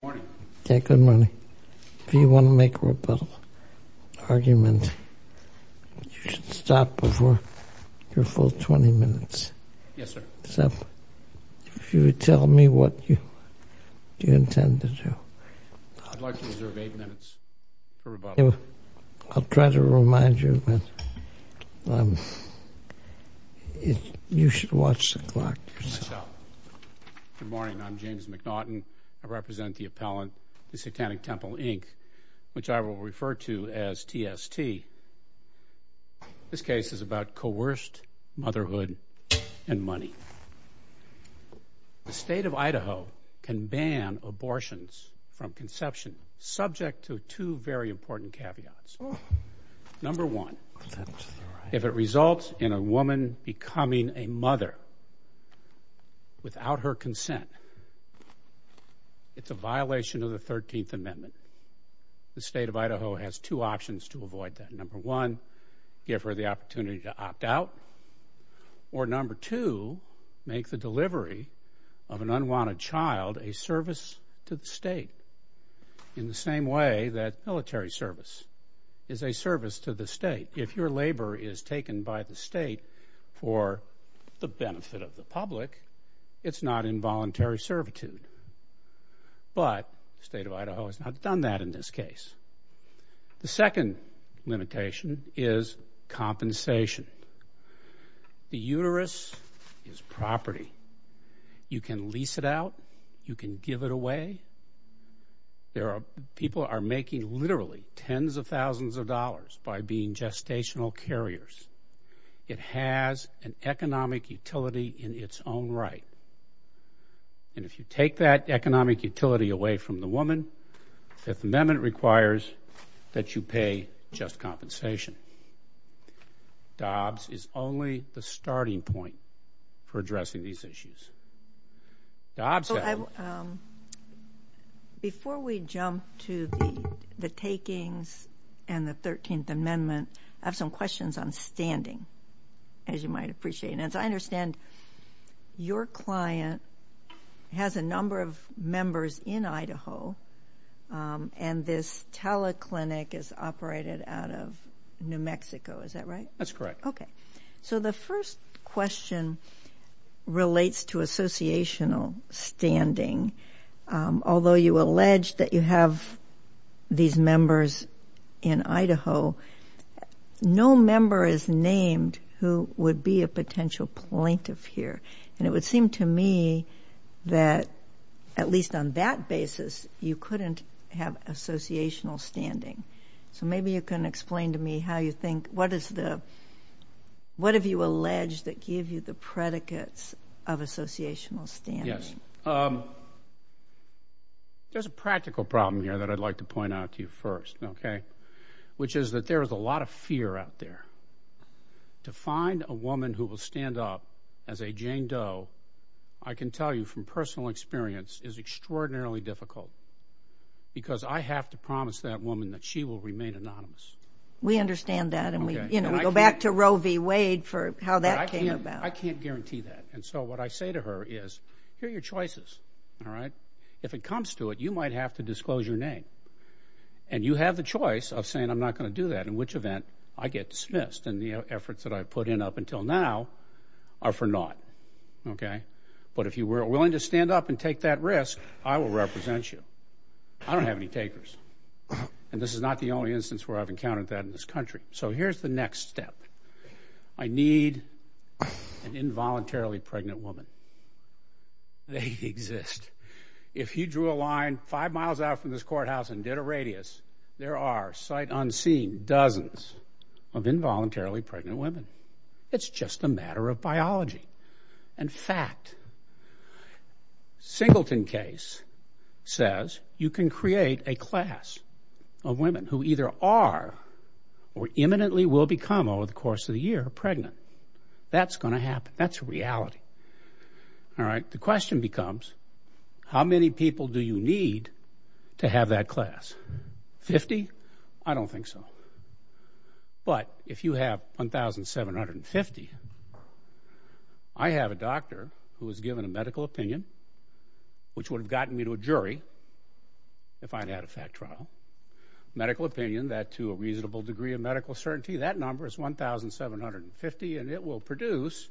Good morning. Okay, good morning. If you want to make a rebuttal argument, you should stop before your full 20 minutes. Yes, sir. Except if you would tell me what you intend to do. I'd like to reserve 8 minutes for rebuttal. I'll try to remind you that you should watch the clock yourself. I shall. Good morning. I'm James McNaughton. I represent the appellant, the Satanic Temple, Inc., which I will refer to as TST. This case is about coerced motherhood and money. The state of Idaho can ban abortions from conception, subject to two very important caveats. Number one, if it results in a woman becoming a mother without her consent, it's a violation of the 13th Amendment. The state of Idaho has two options to avoid that. Number one, give her the opportunity to opt out, or number two, make the delivery of an unwanted child a service to the state, in the same way that military service is a service to the state. If your labor is taken by the state for the benefit of the public, it's not involuntary servitude. But the state of Idaho has not done that in this case. The second limitation is compensation. The uterus is property. You can lease it out. You can give it away. People are making literally tens of thousands of dollars by being gestational carriers. It has an economic utility in its own right. And if you take that economic utility away from the woman, the Fifth Amendment requires that you pay just compensation. Dobbs is only the starting point for addressing these issues. Dobbs has them. Before we jump to the takings and the 13th Amendment, I have some questions on standing, as you might appreciate. As I understand, your client has a number of members in Idaho, and this teleclinic is operated out of New Mexico. Is that right? That's correct. Okay. So the first question relates to associational standing. Although you allege that you have these members in Idaho, no member is named who would be a potential plaintiff here. And it would seem to me that, at least on that basis, you couldn't have associational standing. So maybe you can explain to me how you think, what have you alleged that give you the predicates of associational standing? There's a practical problem here that I'd like to point out to you first, okay, which is that there is a lot of fear out there. To find a woman who will stand up as a Jane Doe, I can tell you from personal experience, is extraordinarily difficult, because I have to promise that woman that she will remain anonymous. We understand that, and we go back to Roe v. Wade for how that came about. I can't guarantee that. And so what I say to her is, here are your choices, all right? If it comes to it, you might have to disclose your name. And you have the choice of saying, I'm not going to do that, in which event I get dismissed, and the efforts that I've put in up until now are for naught, okay? But if you were willing to stand up and take that risk, I will represent you. I don't have any takers. And this is not the only instance where I've encountered that in this country. So here's the next step. I need an involuntarily pregnant woman. They exist. If you drew a line five miles out from this courthouse and did a radius, there are, sight unseen, dozens of involuntarily pregnant women. It's just a matter of biology and fact. Singleton case says you can create a class of women who either are or imminently will become, over the course of the year, pregnant. That's going to happen. That's reality, all right? The question becomes, how many people do you need to have that class? Fifty? I don't think so. But if you have 1,750, I have a doctor who is given a medical opinion, which would have gotten me to a jury if I'd had a fact trial. Medical opinion, that, to a reasonable degree of medical certainty, that number is 1,750, and it will produce,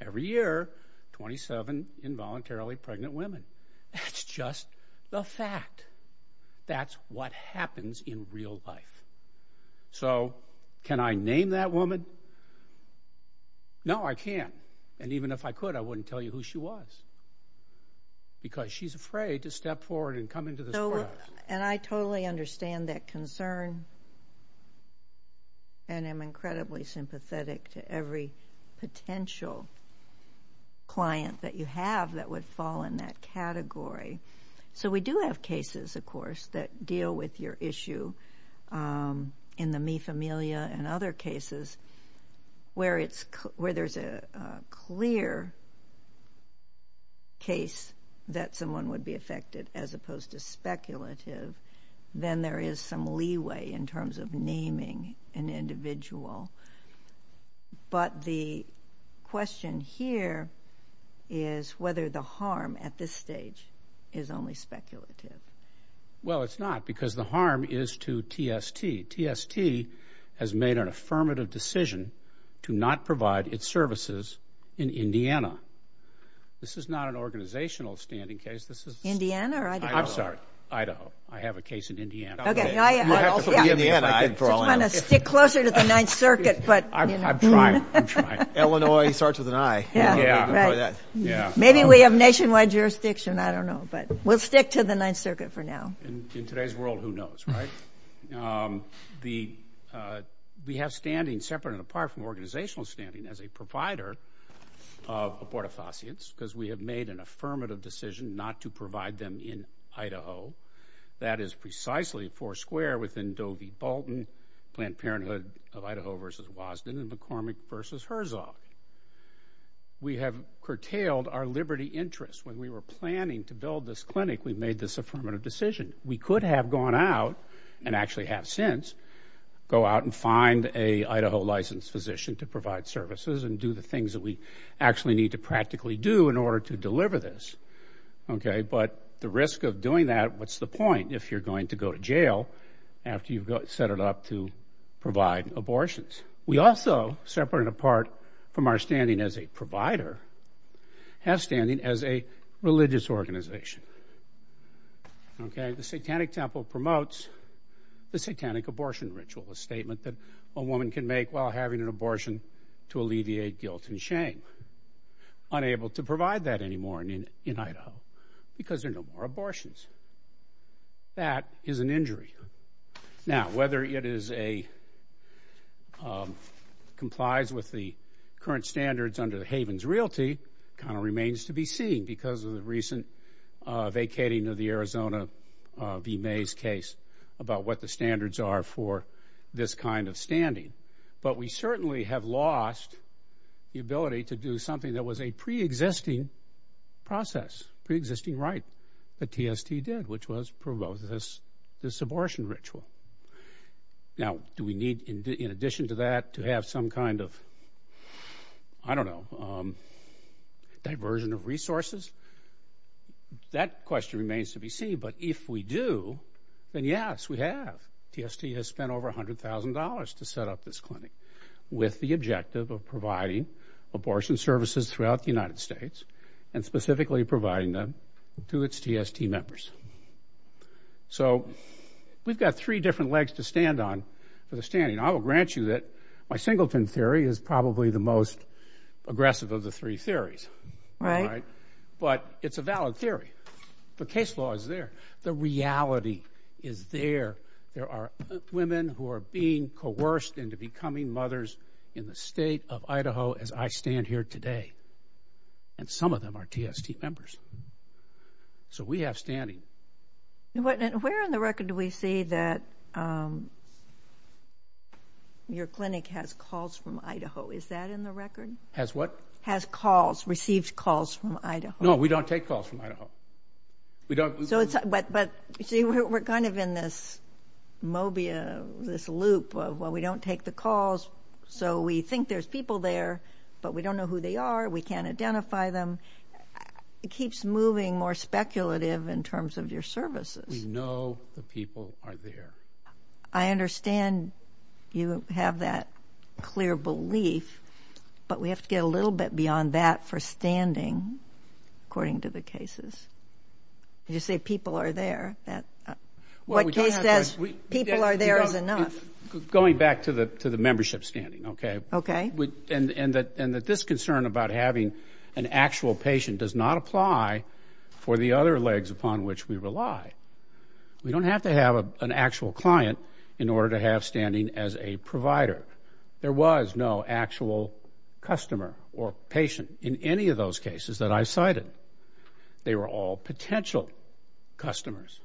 every year, 27 involuntarily pregnant women. That's just the fact. That's what happens in real life. So can I name that woman? No, I can't. And even if I could, I wouldn't tell you who she was because she's afraid to step forward and come into this world. And I totally understand that concern, and am incredibly sympathetic to every potential client that you have that would fall in that category. So we do have cases, of course, that deal with your issue, in the Mi Familia and other cases, where there's a clear case that someone would be affected as opposed to speculative, then there is some leeway in terms of naming an individual. But the question here is whether the harm at this stage is only speculative. Well, it's not because the harm is to TST. TST has made an affirmative decision to not provide its services in Indiana. This is not an organizational standing case. Indiana or Idaho? I'm sorry, Idaho. I have a case in Indiana. You'll have to put me in Indiana, I think, for all I know. I just want to stick closer to the Ninth Circuit. I'm trying. I'm trying. Illinois starts with an I. Yeah, right. Maybe we have nationwide jurisdiction. I don't know. But we'll stick to the Ninth Circuit for now. In today's world, who knows, right? We have standing, separate and apart from organizational standing, as a provider of abortifacients because we have made an affirmative decision not to provide them in Idaho. That is precisely four square within Doe v. Bolton, Planned Parenthood of Idaho versus Wasden, and McCormick versus Herzog. We have curtailed our liberty interest. When we were planning to build this clinic, we made this affirmative decision. We could have gone out, and actually have since, go out and find an Idaho-licensed physician to provide services and do the things that we actually need to practically do in order to deliver this. But the risk of doing that, what's the point if you're going to go to jail after you've set it up to provide abortions? We also, separate and apart from our standing as a provider, have standing as a religious organization. The Satanic Temple promotes the satanic abortion ritual, a statement that a woman can make while having an abortion to alleviate guilt and shame. Unable to provide that anymore in Idaho because there are no more abortions. That is an injury. Now, whether it complies with the current standards under Haven's Realty kind of remains to be seen because of the recent vacating of the Arizona v. Mays case about what the standards are for this kind of standing. But we certainly have lost the ability to do something that was a preexisting process, preexisting right that TST did, which was promote this abortion ritual. Now, do we need, in addition to that, to have some kind of, I don't know, diversion of resources? That question remains to be seen. But if we do, then, yes, we have. TST has spent over $100,000 to set up this clinic with the objective of providing abortion services throughout the United States and specifically providing them to its TST members. So we've got three different legs to stand on for the standing. I will grant you that my singleton theory is probably the most aggressive of the three theories. But it's a valid theory. The case law is there. The reality is there. There are women who are being coerced into becoming mothers in the state of Idaho as I stand here today, and some of them are TST members. So we have standing. Where in the record do we see that your clinic has calls from Idaho? Is that in the record? Has what? Has calls, received calls from Idaho. No, we don't take calls from Idaho. But see, we're kind of in this mobia, this loop of, well, we don't take the calls, so we think there's people there, but we don't know who they are. We can't identify them. It keeps moving more speculative in terms of your services. We know the people are there. I understand you have that clear belief, but we have to get a little bit beyond that for standing, according to the cases. You say people are there. What case says people are there is enough. Going back to the membership standing, okay? Okay. And that this concern about having an actual patient does not apply for the other legs upon which we rely. We don't have to have an actual client in order to have standing as a provider. There was no actual customer or patient in any of those cases that I cited. They were all potential customers.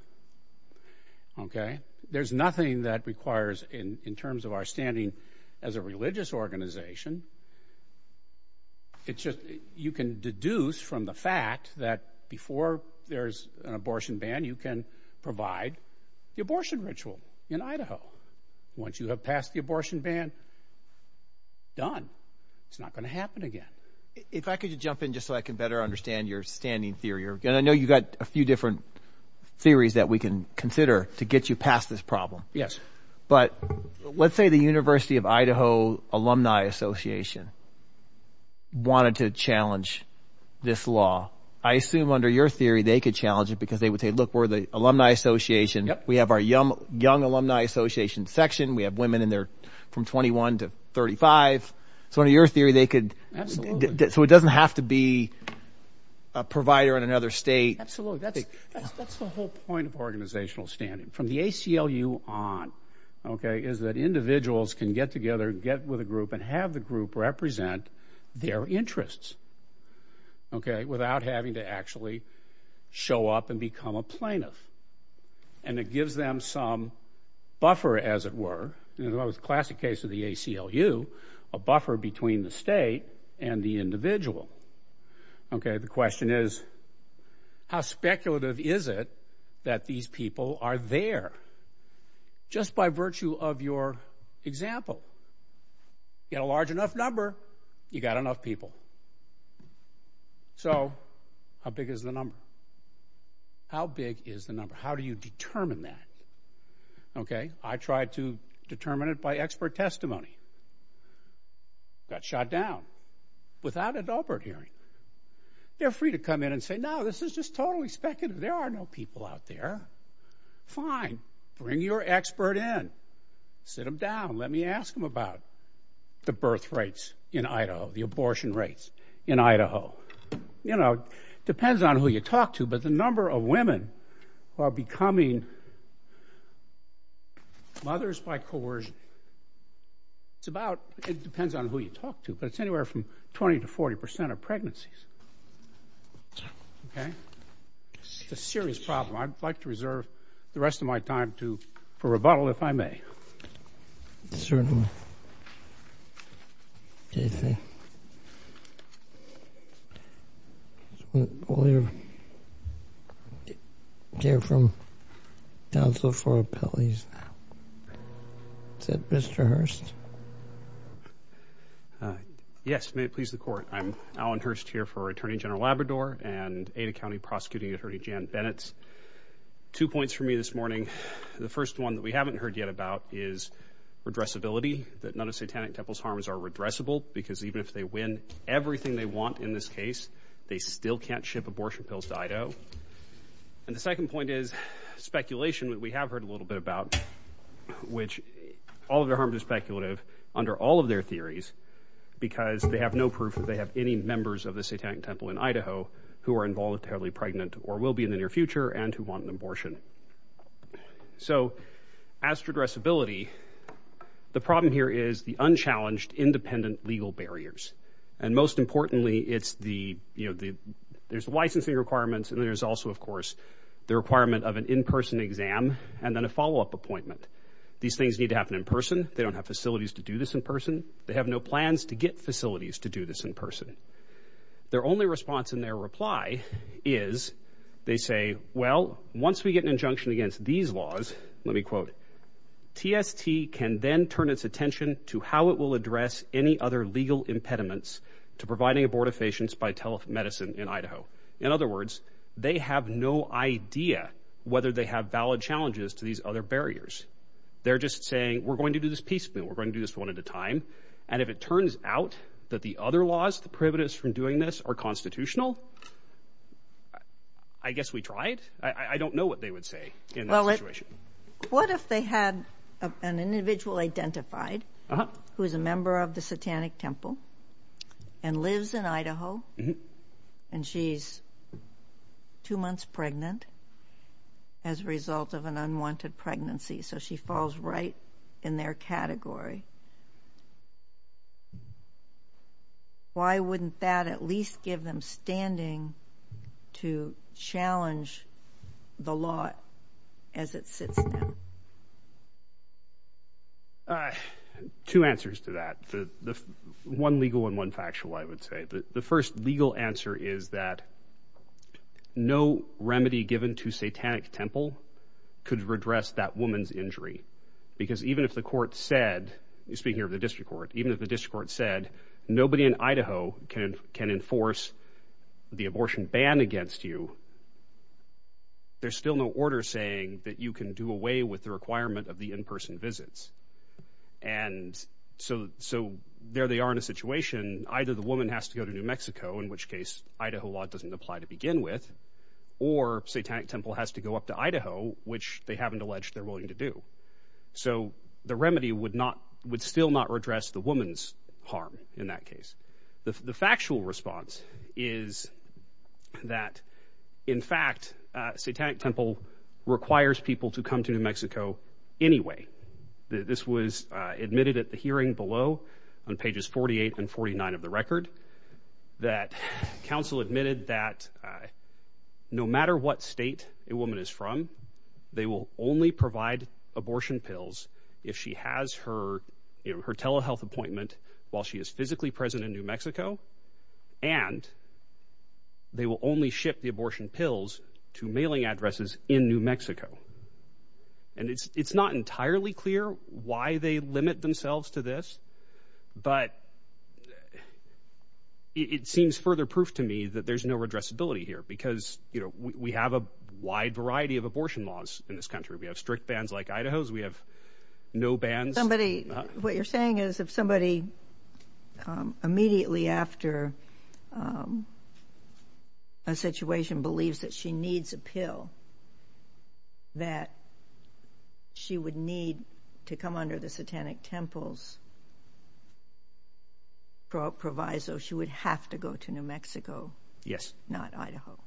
Okay? There's nothing that requires, in terms of our standing as a religious organization, it's just you can deduce from the fact that before there's an abortion ban, you can provide the abortion ritual in Idaho. Once you have passed the abortion ban, done. It's not going to happen again. If I could jump in just so I can better understand your standing theory, and I know you've got a few different theories that we can consider to get you past this problem. Yes. But let's say the University of Idaho Alumni Association wanted to challenge this law. I assume under your theory they could challenge it because they would say, look, we're the alumni association. We have our young alumni association section. We have women in there from 21 to 35. So under your theory they could. So it doesn't have to be a provider in another state. Absolutely. That's the whole point of organizational standing. From the ACLU on is that individuals can get together, get with a group, and have the group represent their interests without having to actually show up and become a plaintiff. And it gives them some buffer, as it were, in the classic case of the ACLU, a buffer between the state and the individual. The question is, how speculative is it that these people are there? Just by virtue of your example. You've got a large enough number, you've got enough people. So how big is the number? How big is the number? How do you determine that? I tried to determine it by expert testimony. Got shot down. Without adultery. They're free to come in and say, no, this is just totally speculative. There are no people out there. Fine. Bring your expert in. Sit them down. Let me ask them about the birth rates in Idaho, the abortion rates in Idaho. You know, depends on who you talk to, but the number of women who are becoming mothers by coercion, it depends on who you talk to, but it's anywhere from 20% to 40% of pregnancies. It's a serious problem. I'd like to reserve the rest of my time for rebuttal, if I may. Sir. Jason. Well, you're here from Council for Appellees now. Is that Mr. Hurst? Yes. May it please the Court. I'm Alan Hurst here for Attorney General Labrador and Ada County Prosecuting Attorney Jan Bennett. Two points for me this morning. The first one that we haven't heard yet about is redressability, that none of Satanic Temple's harms are redressable, because even if they win everything they want in this case, they still can't ship abortion pills to Idaho. And the second point is speculation, which we have heard a little bit about, which all of their harms are speculative under all of their theories, because they have no proof that they have any members of the Satanic Temple in Idaho who are involuntarily pregnant or will be in the near future and who want an abortion. So as to redressability, the problem here is the unchallenged independent legal barriers. And most importantly, there's licensing requirements, and there's also, of course, the requirement of an in-person exam and then a follow-up appointment. These things need to happen in person. They don't have facilities to do this in person. They have no plans to get facilities to do this in person. Their only response in their reply is they say, well, once we get an injunction against these laws, let me quote, TST can then turn its attention to how it will address any other legal impediments to providing abortive patients by telemedicine in Idaho. In other words, they have no idea whether they have valid challenges to these other barriers. They're just saying, we're going to do this piecemeal. We're going to do this one at a time. And if it turns out that the other laws, the privileges from doing this are constitutional, I guess we tried. I don't know what they would say in that situation. Well, what if they had an individual identified who is a member of the Satanic Temple and lives in Idaho, and she's two months pregnant as a result of an unwanted pregnancy, so she falls right in their category? Why wouldn't that at least give them standing to challenge the law as it sits down? Two answers to that. One legal and one factual, I would say. The first legal answer is that no remedy given to Satanic Temple could redress that woman's injury, because even if the court said, speaking of the district court, even if the district court said nobody in Idaho can enforce the abortion ban against you, there's still no order saying that you can do away with the requirement of the in-person visits. And so there they are in a situation. Either the woman has to go to New Mexico, in which case Idaho law doesn't apply to begin with, or Satanic Temple has to go up to Idaho, which they haven't alleged they're willing to do. So the remedy would still not redress the woman's harm in that case. The factual response is that, in fact, Satanic Temple requires people to come to New Mexico anyway. This was admitted at the hearing below on pages 48 and 49 of the record, that counsel admitted that no matter what state a woman is from, they will only provide abortion pills if she has her telehealth appointment while she is physically present in New Mexico, and they will only ship the abortion pills to mailing addresses in New Mexico. And it's not entirely clear why they limit themselves to this, but it seems further proof to me that there's no redressability here because we have a wide variety of abortion laws in this country. We have strict bans like Idaho's. We have no bans. What you're saying is if somebody, immediately after a situation, believes that she needs a pill, that she would need to come under the Satanic Temple's proviso, she would have to go to New Mexico, not Idaho.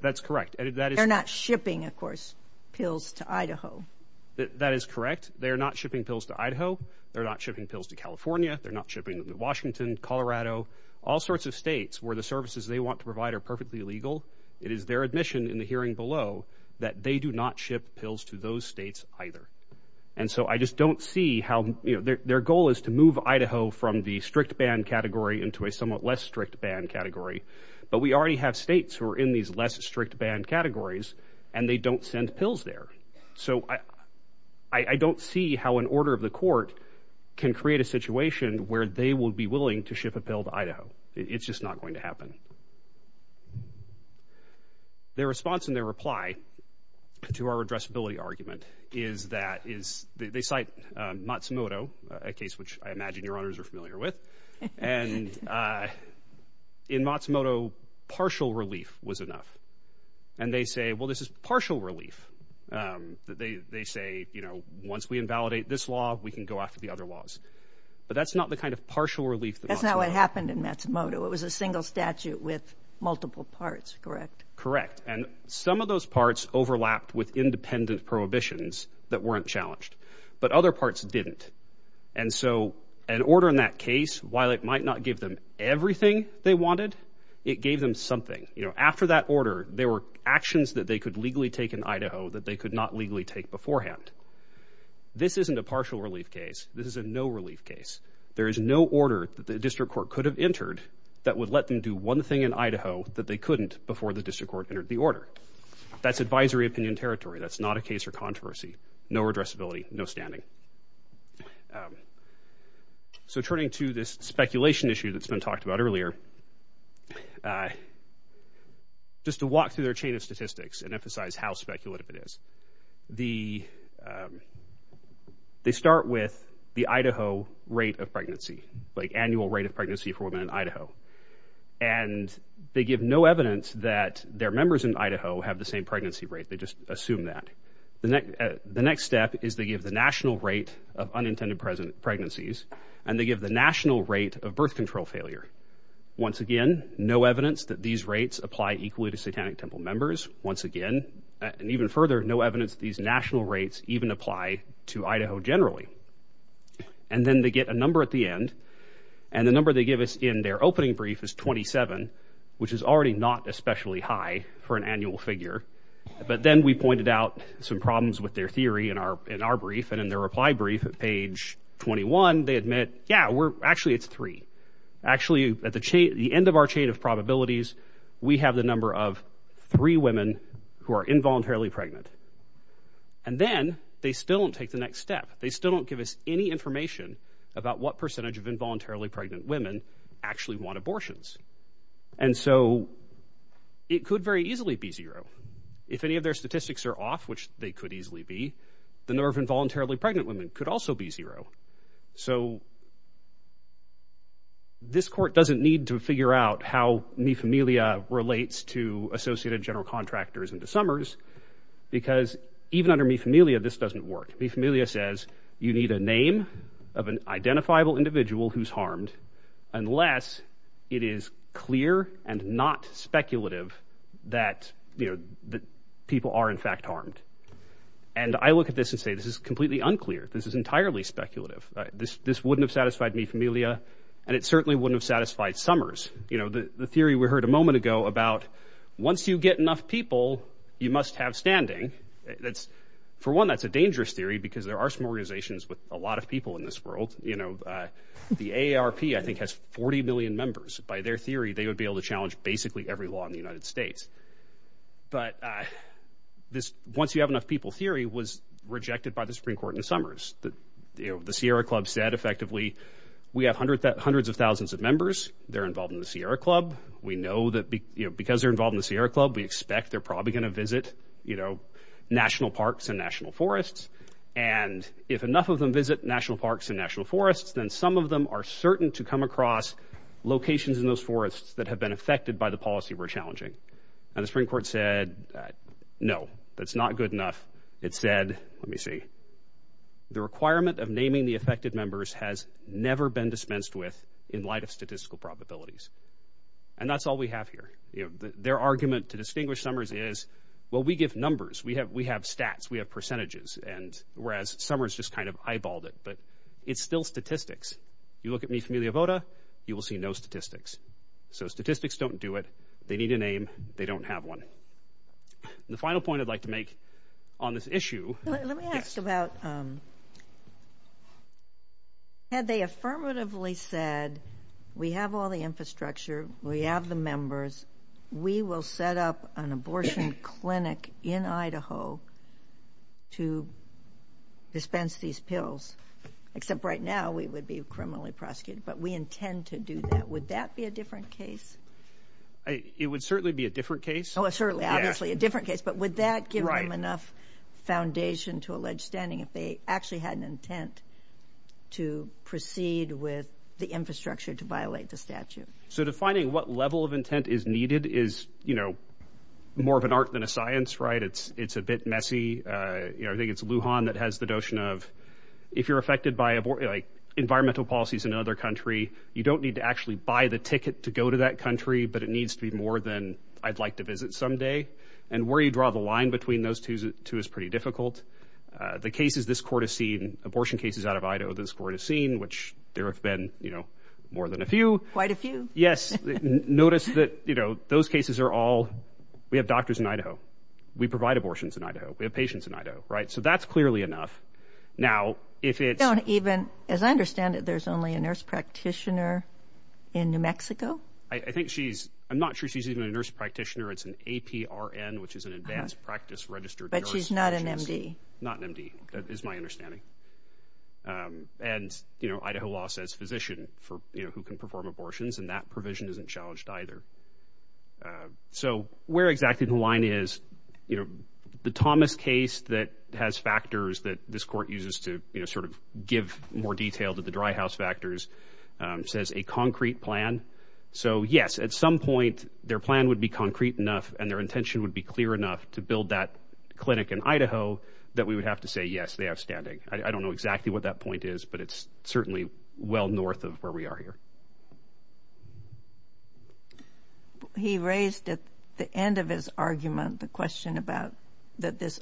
That's correct. They're not shipping, of course, pills to Idaho. That is correct. They're not shipping pills to Idaho. They're not shipping pills to California. They're not shipping them to Washington, Colorado, all sorts of states where the services they want to provide are perfectly legal. It is their admission in the hearing below that they do not ship pills to those states either. And so I just don't see how their goal is to move Idaho from the strict ban category into a somewhat less strict ban category, but we already have states who are in these less strict ban categories, and they don't send pills there. So I don't see how an order of the court can create a situation where they will be willing to ship a pill to Idaho. It's just not going to happen. Their response and their reply to our addressability argument is that they cite Matsumoto, a case which I imagine Your Honors are familiar with, and in Matsumoto, partial relief was enough. And they say, well, this is partial relief. They say, you know, once we invalidate this law, we can go after the other laws. But that's not the kind of partial relief that Matsumoto. That's not what happened in Matsumoto. It was a single statute with multiple parts, correct? Correct. And some of those parts overlapped with independent prohibitions that weren't challenged, but other parts didn't. And so an order in that case, while it might not give them everything they wanted, it gave them something. After that order, there were actions that they could legally take in Idaho that they could not legally take beforehand. This isn't a partial relief case. This is a no-relief case. There is no order that the district court could have entered that would let them do one thing in Idaho that they couldn't before the district court entered the order. That's advisory opinion territory. That's not a case for controversy. No addressability, no standing. So turning to this speculation issue that's been talked about earlier, just to walk through their chain of statistics and emphasize how speculative it is, they start with the Idaho rate of pregnancy, like annual rate of pregnancy for women in Idaho. And they give no evidence that their members in Idaho have the same pregnancy rate. They just assume that. The next step is they give the national rate of unintended pregnancies, and they give the national rate of birth control failure. Once again, no evidence that these rates apply equally to Satanic Temple members. Once again, and even further, no evidence that these national rates even apply to Idaho generally. And then they get a number at the end, and the number they give us in their opening brief is 27, which is already not especially high for an annual figure. But then we pointed out some problems with their theory in our brief, and in their reply brief at page 21, they admit, yeah, actually it's three. Actually, at the end of our chain of probabilities, we have the number of three women who are involuntarily pregnant. And then they still don't take the next step. They still don't give us any information about what percentage of involuntarily pregnant women actually want abortions. And so it could very easily be zero. If any of their statistics are off, which they could easily be, the number of involuntarily pregnant women could also be zero. So this court doesn't need to figure out how mi familia relates to Associated General Contractors and to Summers, because even under mi familia, this doesn't work. Mi familia says you need a name of an identifiable individual who's harmed unless it is clear and not speculative that people are in fact harmed. And I look at this and say this is completely unclear. This is entirely speculative. This wouldn't have satisfied mi familia, and it certainly wouldn't have satisfied Summers. The theory we heard a moment ago about once you get enough people, you must have standing, for one, that's a dangerous theory because there are some organizations with a lot of people in this world. The AARP, I think, has 40 million members. By their theory, they would be able to challenge basically every law in the United States. But this once-you-have-enough-people theory was rejected by the Supreme Court in Summers. The Sierra Club said, effectively, we have hundreds of thousands of members. They're involved in the Sierra Club. We know that because they're involved in the Sierra Club, we expect they're probably going to visit national parks and national forests. And if enough of them visit national parks and national forests, then some of them are certain to come across locations in those forests that have been affected by the policy we're challenging. And the Supreme Court said, no, that's not good enough. It said, let me see, the requirement of naming the affected members has never been dispensed with in light of statistical probabilities. And that's all we have here. Their argument to distinguish Summers is, well, we give numbers. We have stats. We have percentages. And whereas Summers just kind of eyeballed it. But it's still statistics. You look at Mi Familia Vota, you will see no statistics. So statistics don't do it. They need a name. They don't have one. The final point I'd like to make on this issue. Let me ask about had they affirmatively said, we have all the infrastructure, we have the members, we will set up an abortion clinic in Idaho to dispense these pills. Except right now we would be criminally prosecuted. But we intend to do that. Would that be a different case? It would certainly be a different case. Oh, certainly, obviously a different case. But would that give them enough foundation to allege standing if they actually had an intent to proceed with the infrastructure to violate the statute? So defining what level of intent is needed is, you know, more of an art than a science, right? It's a bit messy. I think it's Lujan that has the notion of if you're affected by environmental policies in another country, you don't need to actually buy the ticket to go to that country, but it needs to be more than I'd like to visit someday. And where you draw the line between those two is pretty difficult. The cases this court has seen, abortion cases out of Idaho this court has seen, which there have been, you know, more than a few. Quite a few. Notice that, you know, those cases are all, we have doctors in Idaho. We provide abortions in Idaho. We have patients in Idaho, right? So that's clearly enough. Now, if it's... Don't even, as I understand it, there's only a nurse practitioner in New Mexico? I think she's, I'm not sure she's even a nurse practitioner. It's an APRN, which is an advanced practice registered nurse. But she's not an MD. Not an MD, is my understanding. And, you know, Idaho law says physician for, you know, who can perform abortions, and that provision isn't challenged either. So where exactly the line is, you know, the Thomas case that has factors that this court uses to, you know, sort of give more detail to the dry house factors says a concrete plan. So, yes, at some point, their plan would be concrete enough and their intention would be clear enough to build that clinic in Idaho that we would have to say, yes, they have standing. I don't know exactly what that point is, but it's certainly well north of where we are here. He raised at the end of his argument the question about that this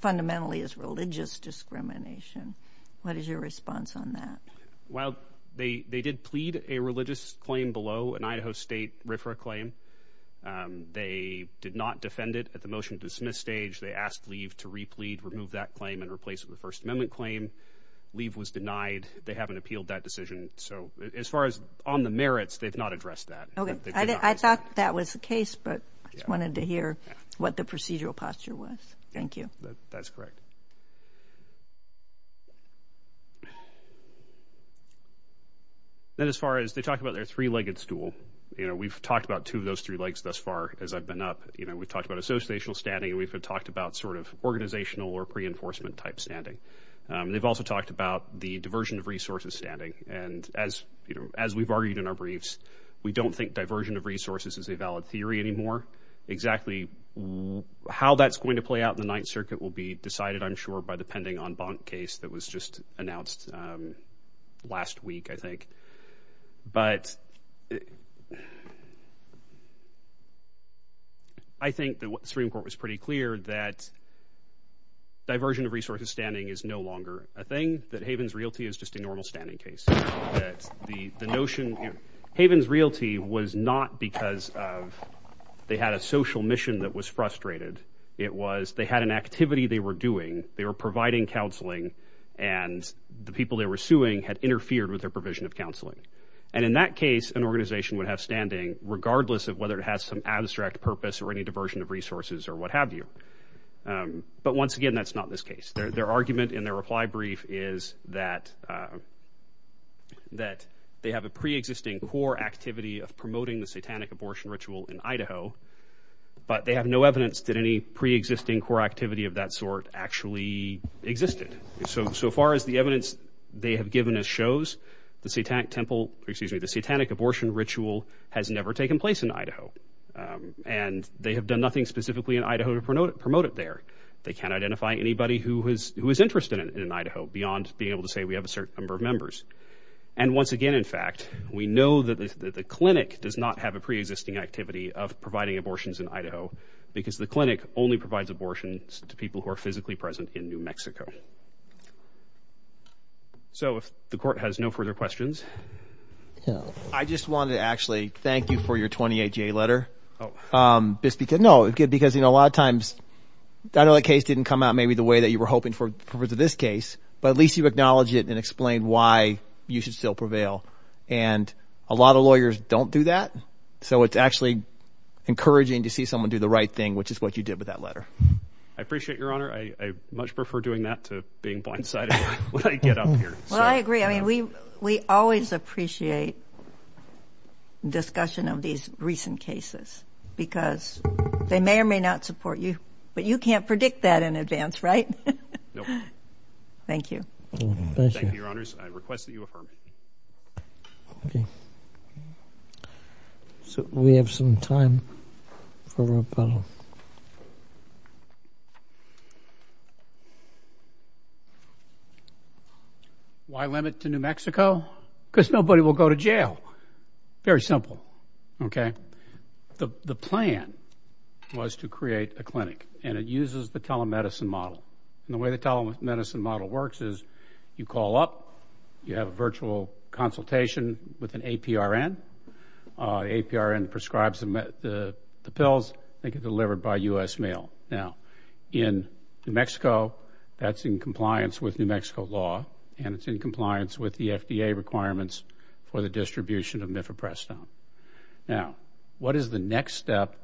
fundamentally is religious discrimination. What is your response on that? Well, they did plead a religious claim below an Idaho State RFRA claim. They did not defend it at the motion to dismiss stage. They asked leave to replead, remove that claim, and replace it with a First Amendment claim. Leave was denied. They haven't appealed that decision. So as far as on the merits, they've not addressed that. Okay, I thought that was the case, but I just wanted to hear what the procedural posture was. Thank you. That's correct. Then as far as they talked about their three-legged stool, you know, we've talked about two of those three legs thus far as I've been up. You know, we've talked about associational standing. We've talked about sort of organizational or pre-enforcement type standing. They've also talked about the diversion of resources standing. And as we've argued in our briefs, we don't think diversion of resources is a valid theory anymore. Exactly how that's going to play out in the Ninth Circuit will be decided, I'm sure, by the pending en banc case that was just announced last week, I think. But... I think the Supreme Court was pretty clear that diversion of resources standing is no longer a thing, that Havens Realty is just a normal standing case. The notion... Havens Realty was not because of... they had a social mission that was frustrated. It was they had an activity they were doing. They were providing counseling, and the people they were suing had interfered with their provision of counseling. And in that case, an organization would have standing, regardless of whether it has some abstract purpose or any diversion of resources or what have you. But once again, that's not this case. Their argument in their reply brief is that... that they have a pre-existing core activity of promoting the satanic abortion ritual in Idaho, but they have no evidence that any pre-existing core activity of that sort actually existed. So far as the evidence they have given us shows, the satanic temple... excuse me, the satanic abortion ritual has never taken place in Idaho. And they have done nothing specifically in Idaho to promote it there. They can't identify anybody who is interested in Idaho beyond being able to say we have a certain number of members. And once again, in fact, we know that the clinic does not have a pre-existing activity of providing abortions in Idaho because the clinic only provides abortions to people who are physically present in New Mexico. So if the court has no further questions... I just wanted to actually thank you for your 28-J letter. No, because a lot of times... I know that case didn't come out maybe the way that you were hoping for this case, but at least you acknowledged it and explained why you should still prevail. And a lot of lawyers don't do that. So it's actually encouraging to see someone do the right thing, which is what you did with that letter. I appreciate, Your Honor. I much prefer doing that to being blindsided when I get up here. Well, I agree. I mean, we always appreciate discussion of these recent cases because they may or may not support you. But you can't predict that in advance, right? Nope. Thank you. Thank you, Your Honors. I request that you affirm it. Okay. So we have some time for rebuttal. Why limit to New Mexico? Because nobody will go to jail. Very simple, okay? The plan was to create a clinic, and it uses the telemedicine model. And the way the telemedicine model works is you call up, you have a virtual consultation with an APRN. The APRN prescribes the pills. They get delivered by U.S. mail. Now, in New Mexico, that's in compliance with New Mexico law, and it's in compliance with the FDA requirements for the distribution of Mifeprestone. Now, what is the next step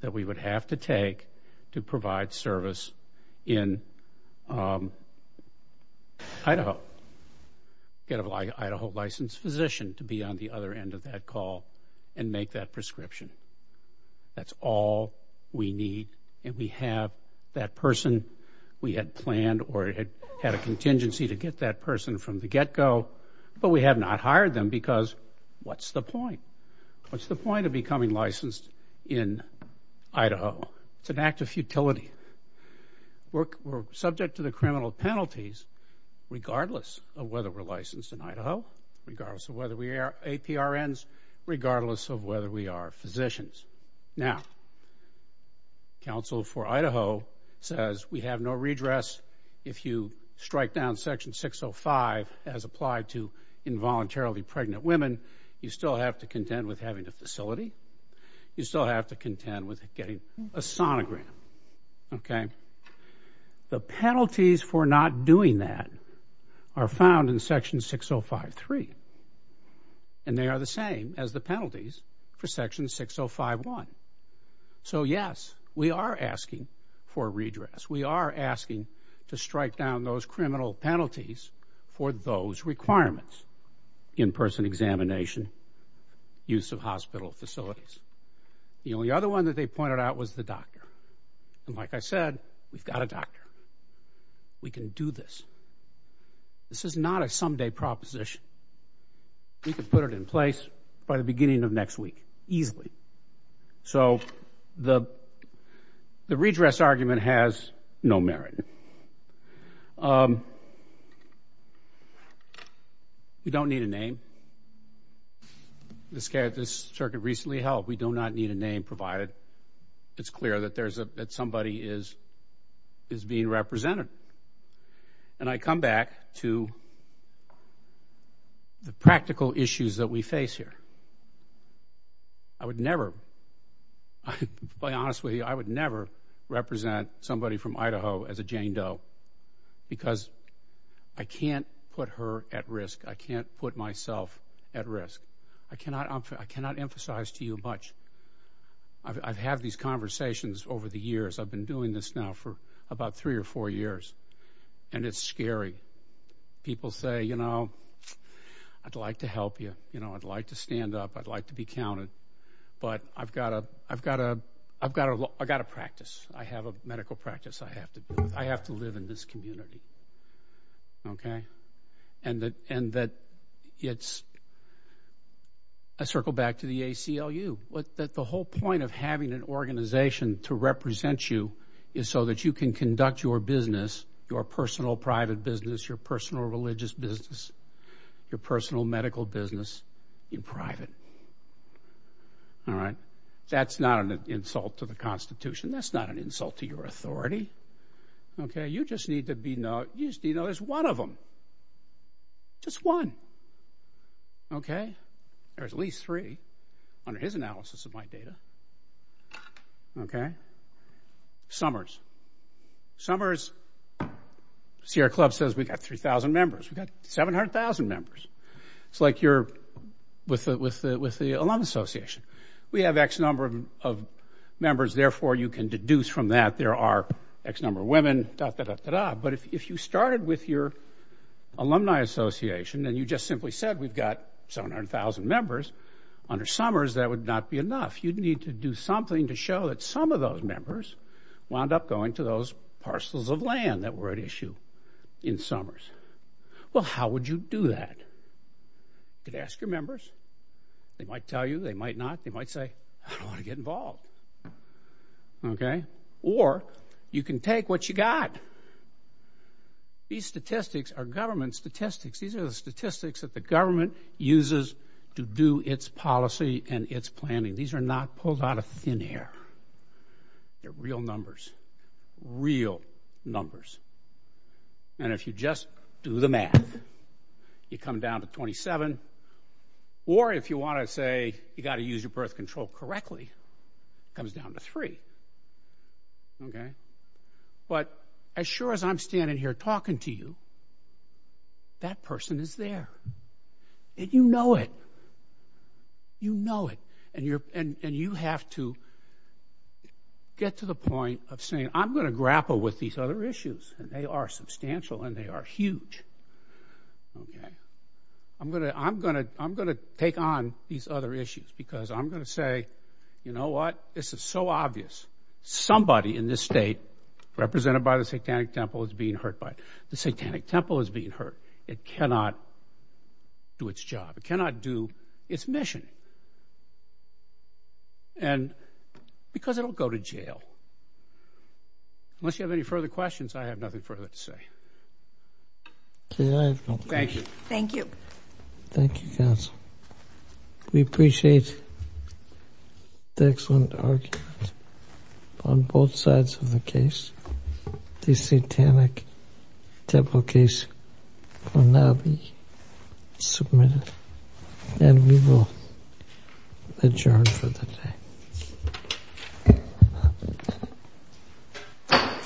that we would have to take to provide service in Idaho? Get an Idaho licensed physician to be on the other end of that call and make that prescription. That's all we need, and we have that person. We had planned or had a contingency to get that person from the get-go, but we have not hired them because what's the point? What's the point of becoming licensed in Idaho? It's an act of futility. We're subject to the criminal penalties regardless of whether we're licensed in Idaho, regardless of whether we are APRNs, regardless of whether we are physicians. Now, counsel for Idaho says we have no redress if you strike down Section 605 as applied to involuntarily pregnant women. You still have to contend with having a facility. You still have to contend with getting a sonogram. The penalties for not doing that are found in Section 605.3, and they are the same as the penalties for Section 605.1. So, yes, we are asking for redress. We are asking to strike down those criminal penalties for those requirements, in-person examination, use of hospital facilities. The only other one that they pointed out was the doctor, and like I said, we've got a doctor. We can do this. This is not a someday proposition. We can put it in place by the beginning of next week easily. So the redress argument has no merit. We don't need a name. This Circuit recently held we do not need a name provided it's clear that somebody is being represented. And I come back to the practical issues that we face here. I would never, to be honest with you, I would never represent somebody from Idaho as a Jane Doe because I can't put her at risk. I can't put myself at risk. I cannot emphasize to you much. I've had these conversations over the years. I've been doing this now for about three or four years, and it's scary. People say, you know, I'd like to help you. You know, I'd like to stand up. I'd like to be counted. But I've got to practice. I have a medical practice I have to do. I have to live in this community. Okay? And that it's a circle back to the ACLU. The whole point of having an organization to represent you is so that you can conduct your business, your personal private business, your personal religious business, your personal medical business in private. All right? That's not an insult to the Constitution. That's not an insult to your authority. Okay? You just need to know there's one of them. Just one. Okay? There's at least three under his analysis of my data. Okay? Summers. Summers, Sierra Club says we've got 3,000 members. We've got 700,000 members. It's like you're with the Alumni Association. We have X number of members, therefore you can deduce from that there are X number of women, da-da-da-da-da. But if you started with your Alumni Association and you just simply said we've got 700,000 members under Summers, that would not be enough. You'd need to do something to show that some of those members wound up going to those parcels of land that were at issue in Summers. Well, how would you do that? You could ask your members. They might tell you. They might not. They might say, I don't want to get involved. Okay? Or you can take what you got. These statistics are government statistics. These are the statistics that the government uses to do its policy and its planning. These are not pulled out of thin air. They're real numbers, real numbers. And if you just do the math, you come down to 27. Or if you want to say you've got to use your birth control correctly, it comes down to 3. Okay? But as sure as I'm standing here talking to you, that person is there. And you know it. You know it. And you have to get to the point of saying, I'm going to grapple with these other issues, and they are substantial and they are huge. Okay? I'm going to take on these other issues because I'm going to say, you know what? This is so obvious. Somebody in this state represented by the Satanic Temple is being hurt by it. The Satanic Temple is being hurt. It cannot do its job. It cannot do its mission. And because it will go to jail. Unless you have any further questions, I have nothing further to say. Thank you. Thank you. Thank you, counsel. We appreciate the excellent argument on both sides of the case. The Satanic Temple case will now be submitted. And we will adjourn for the day.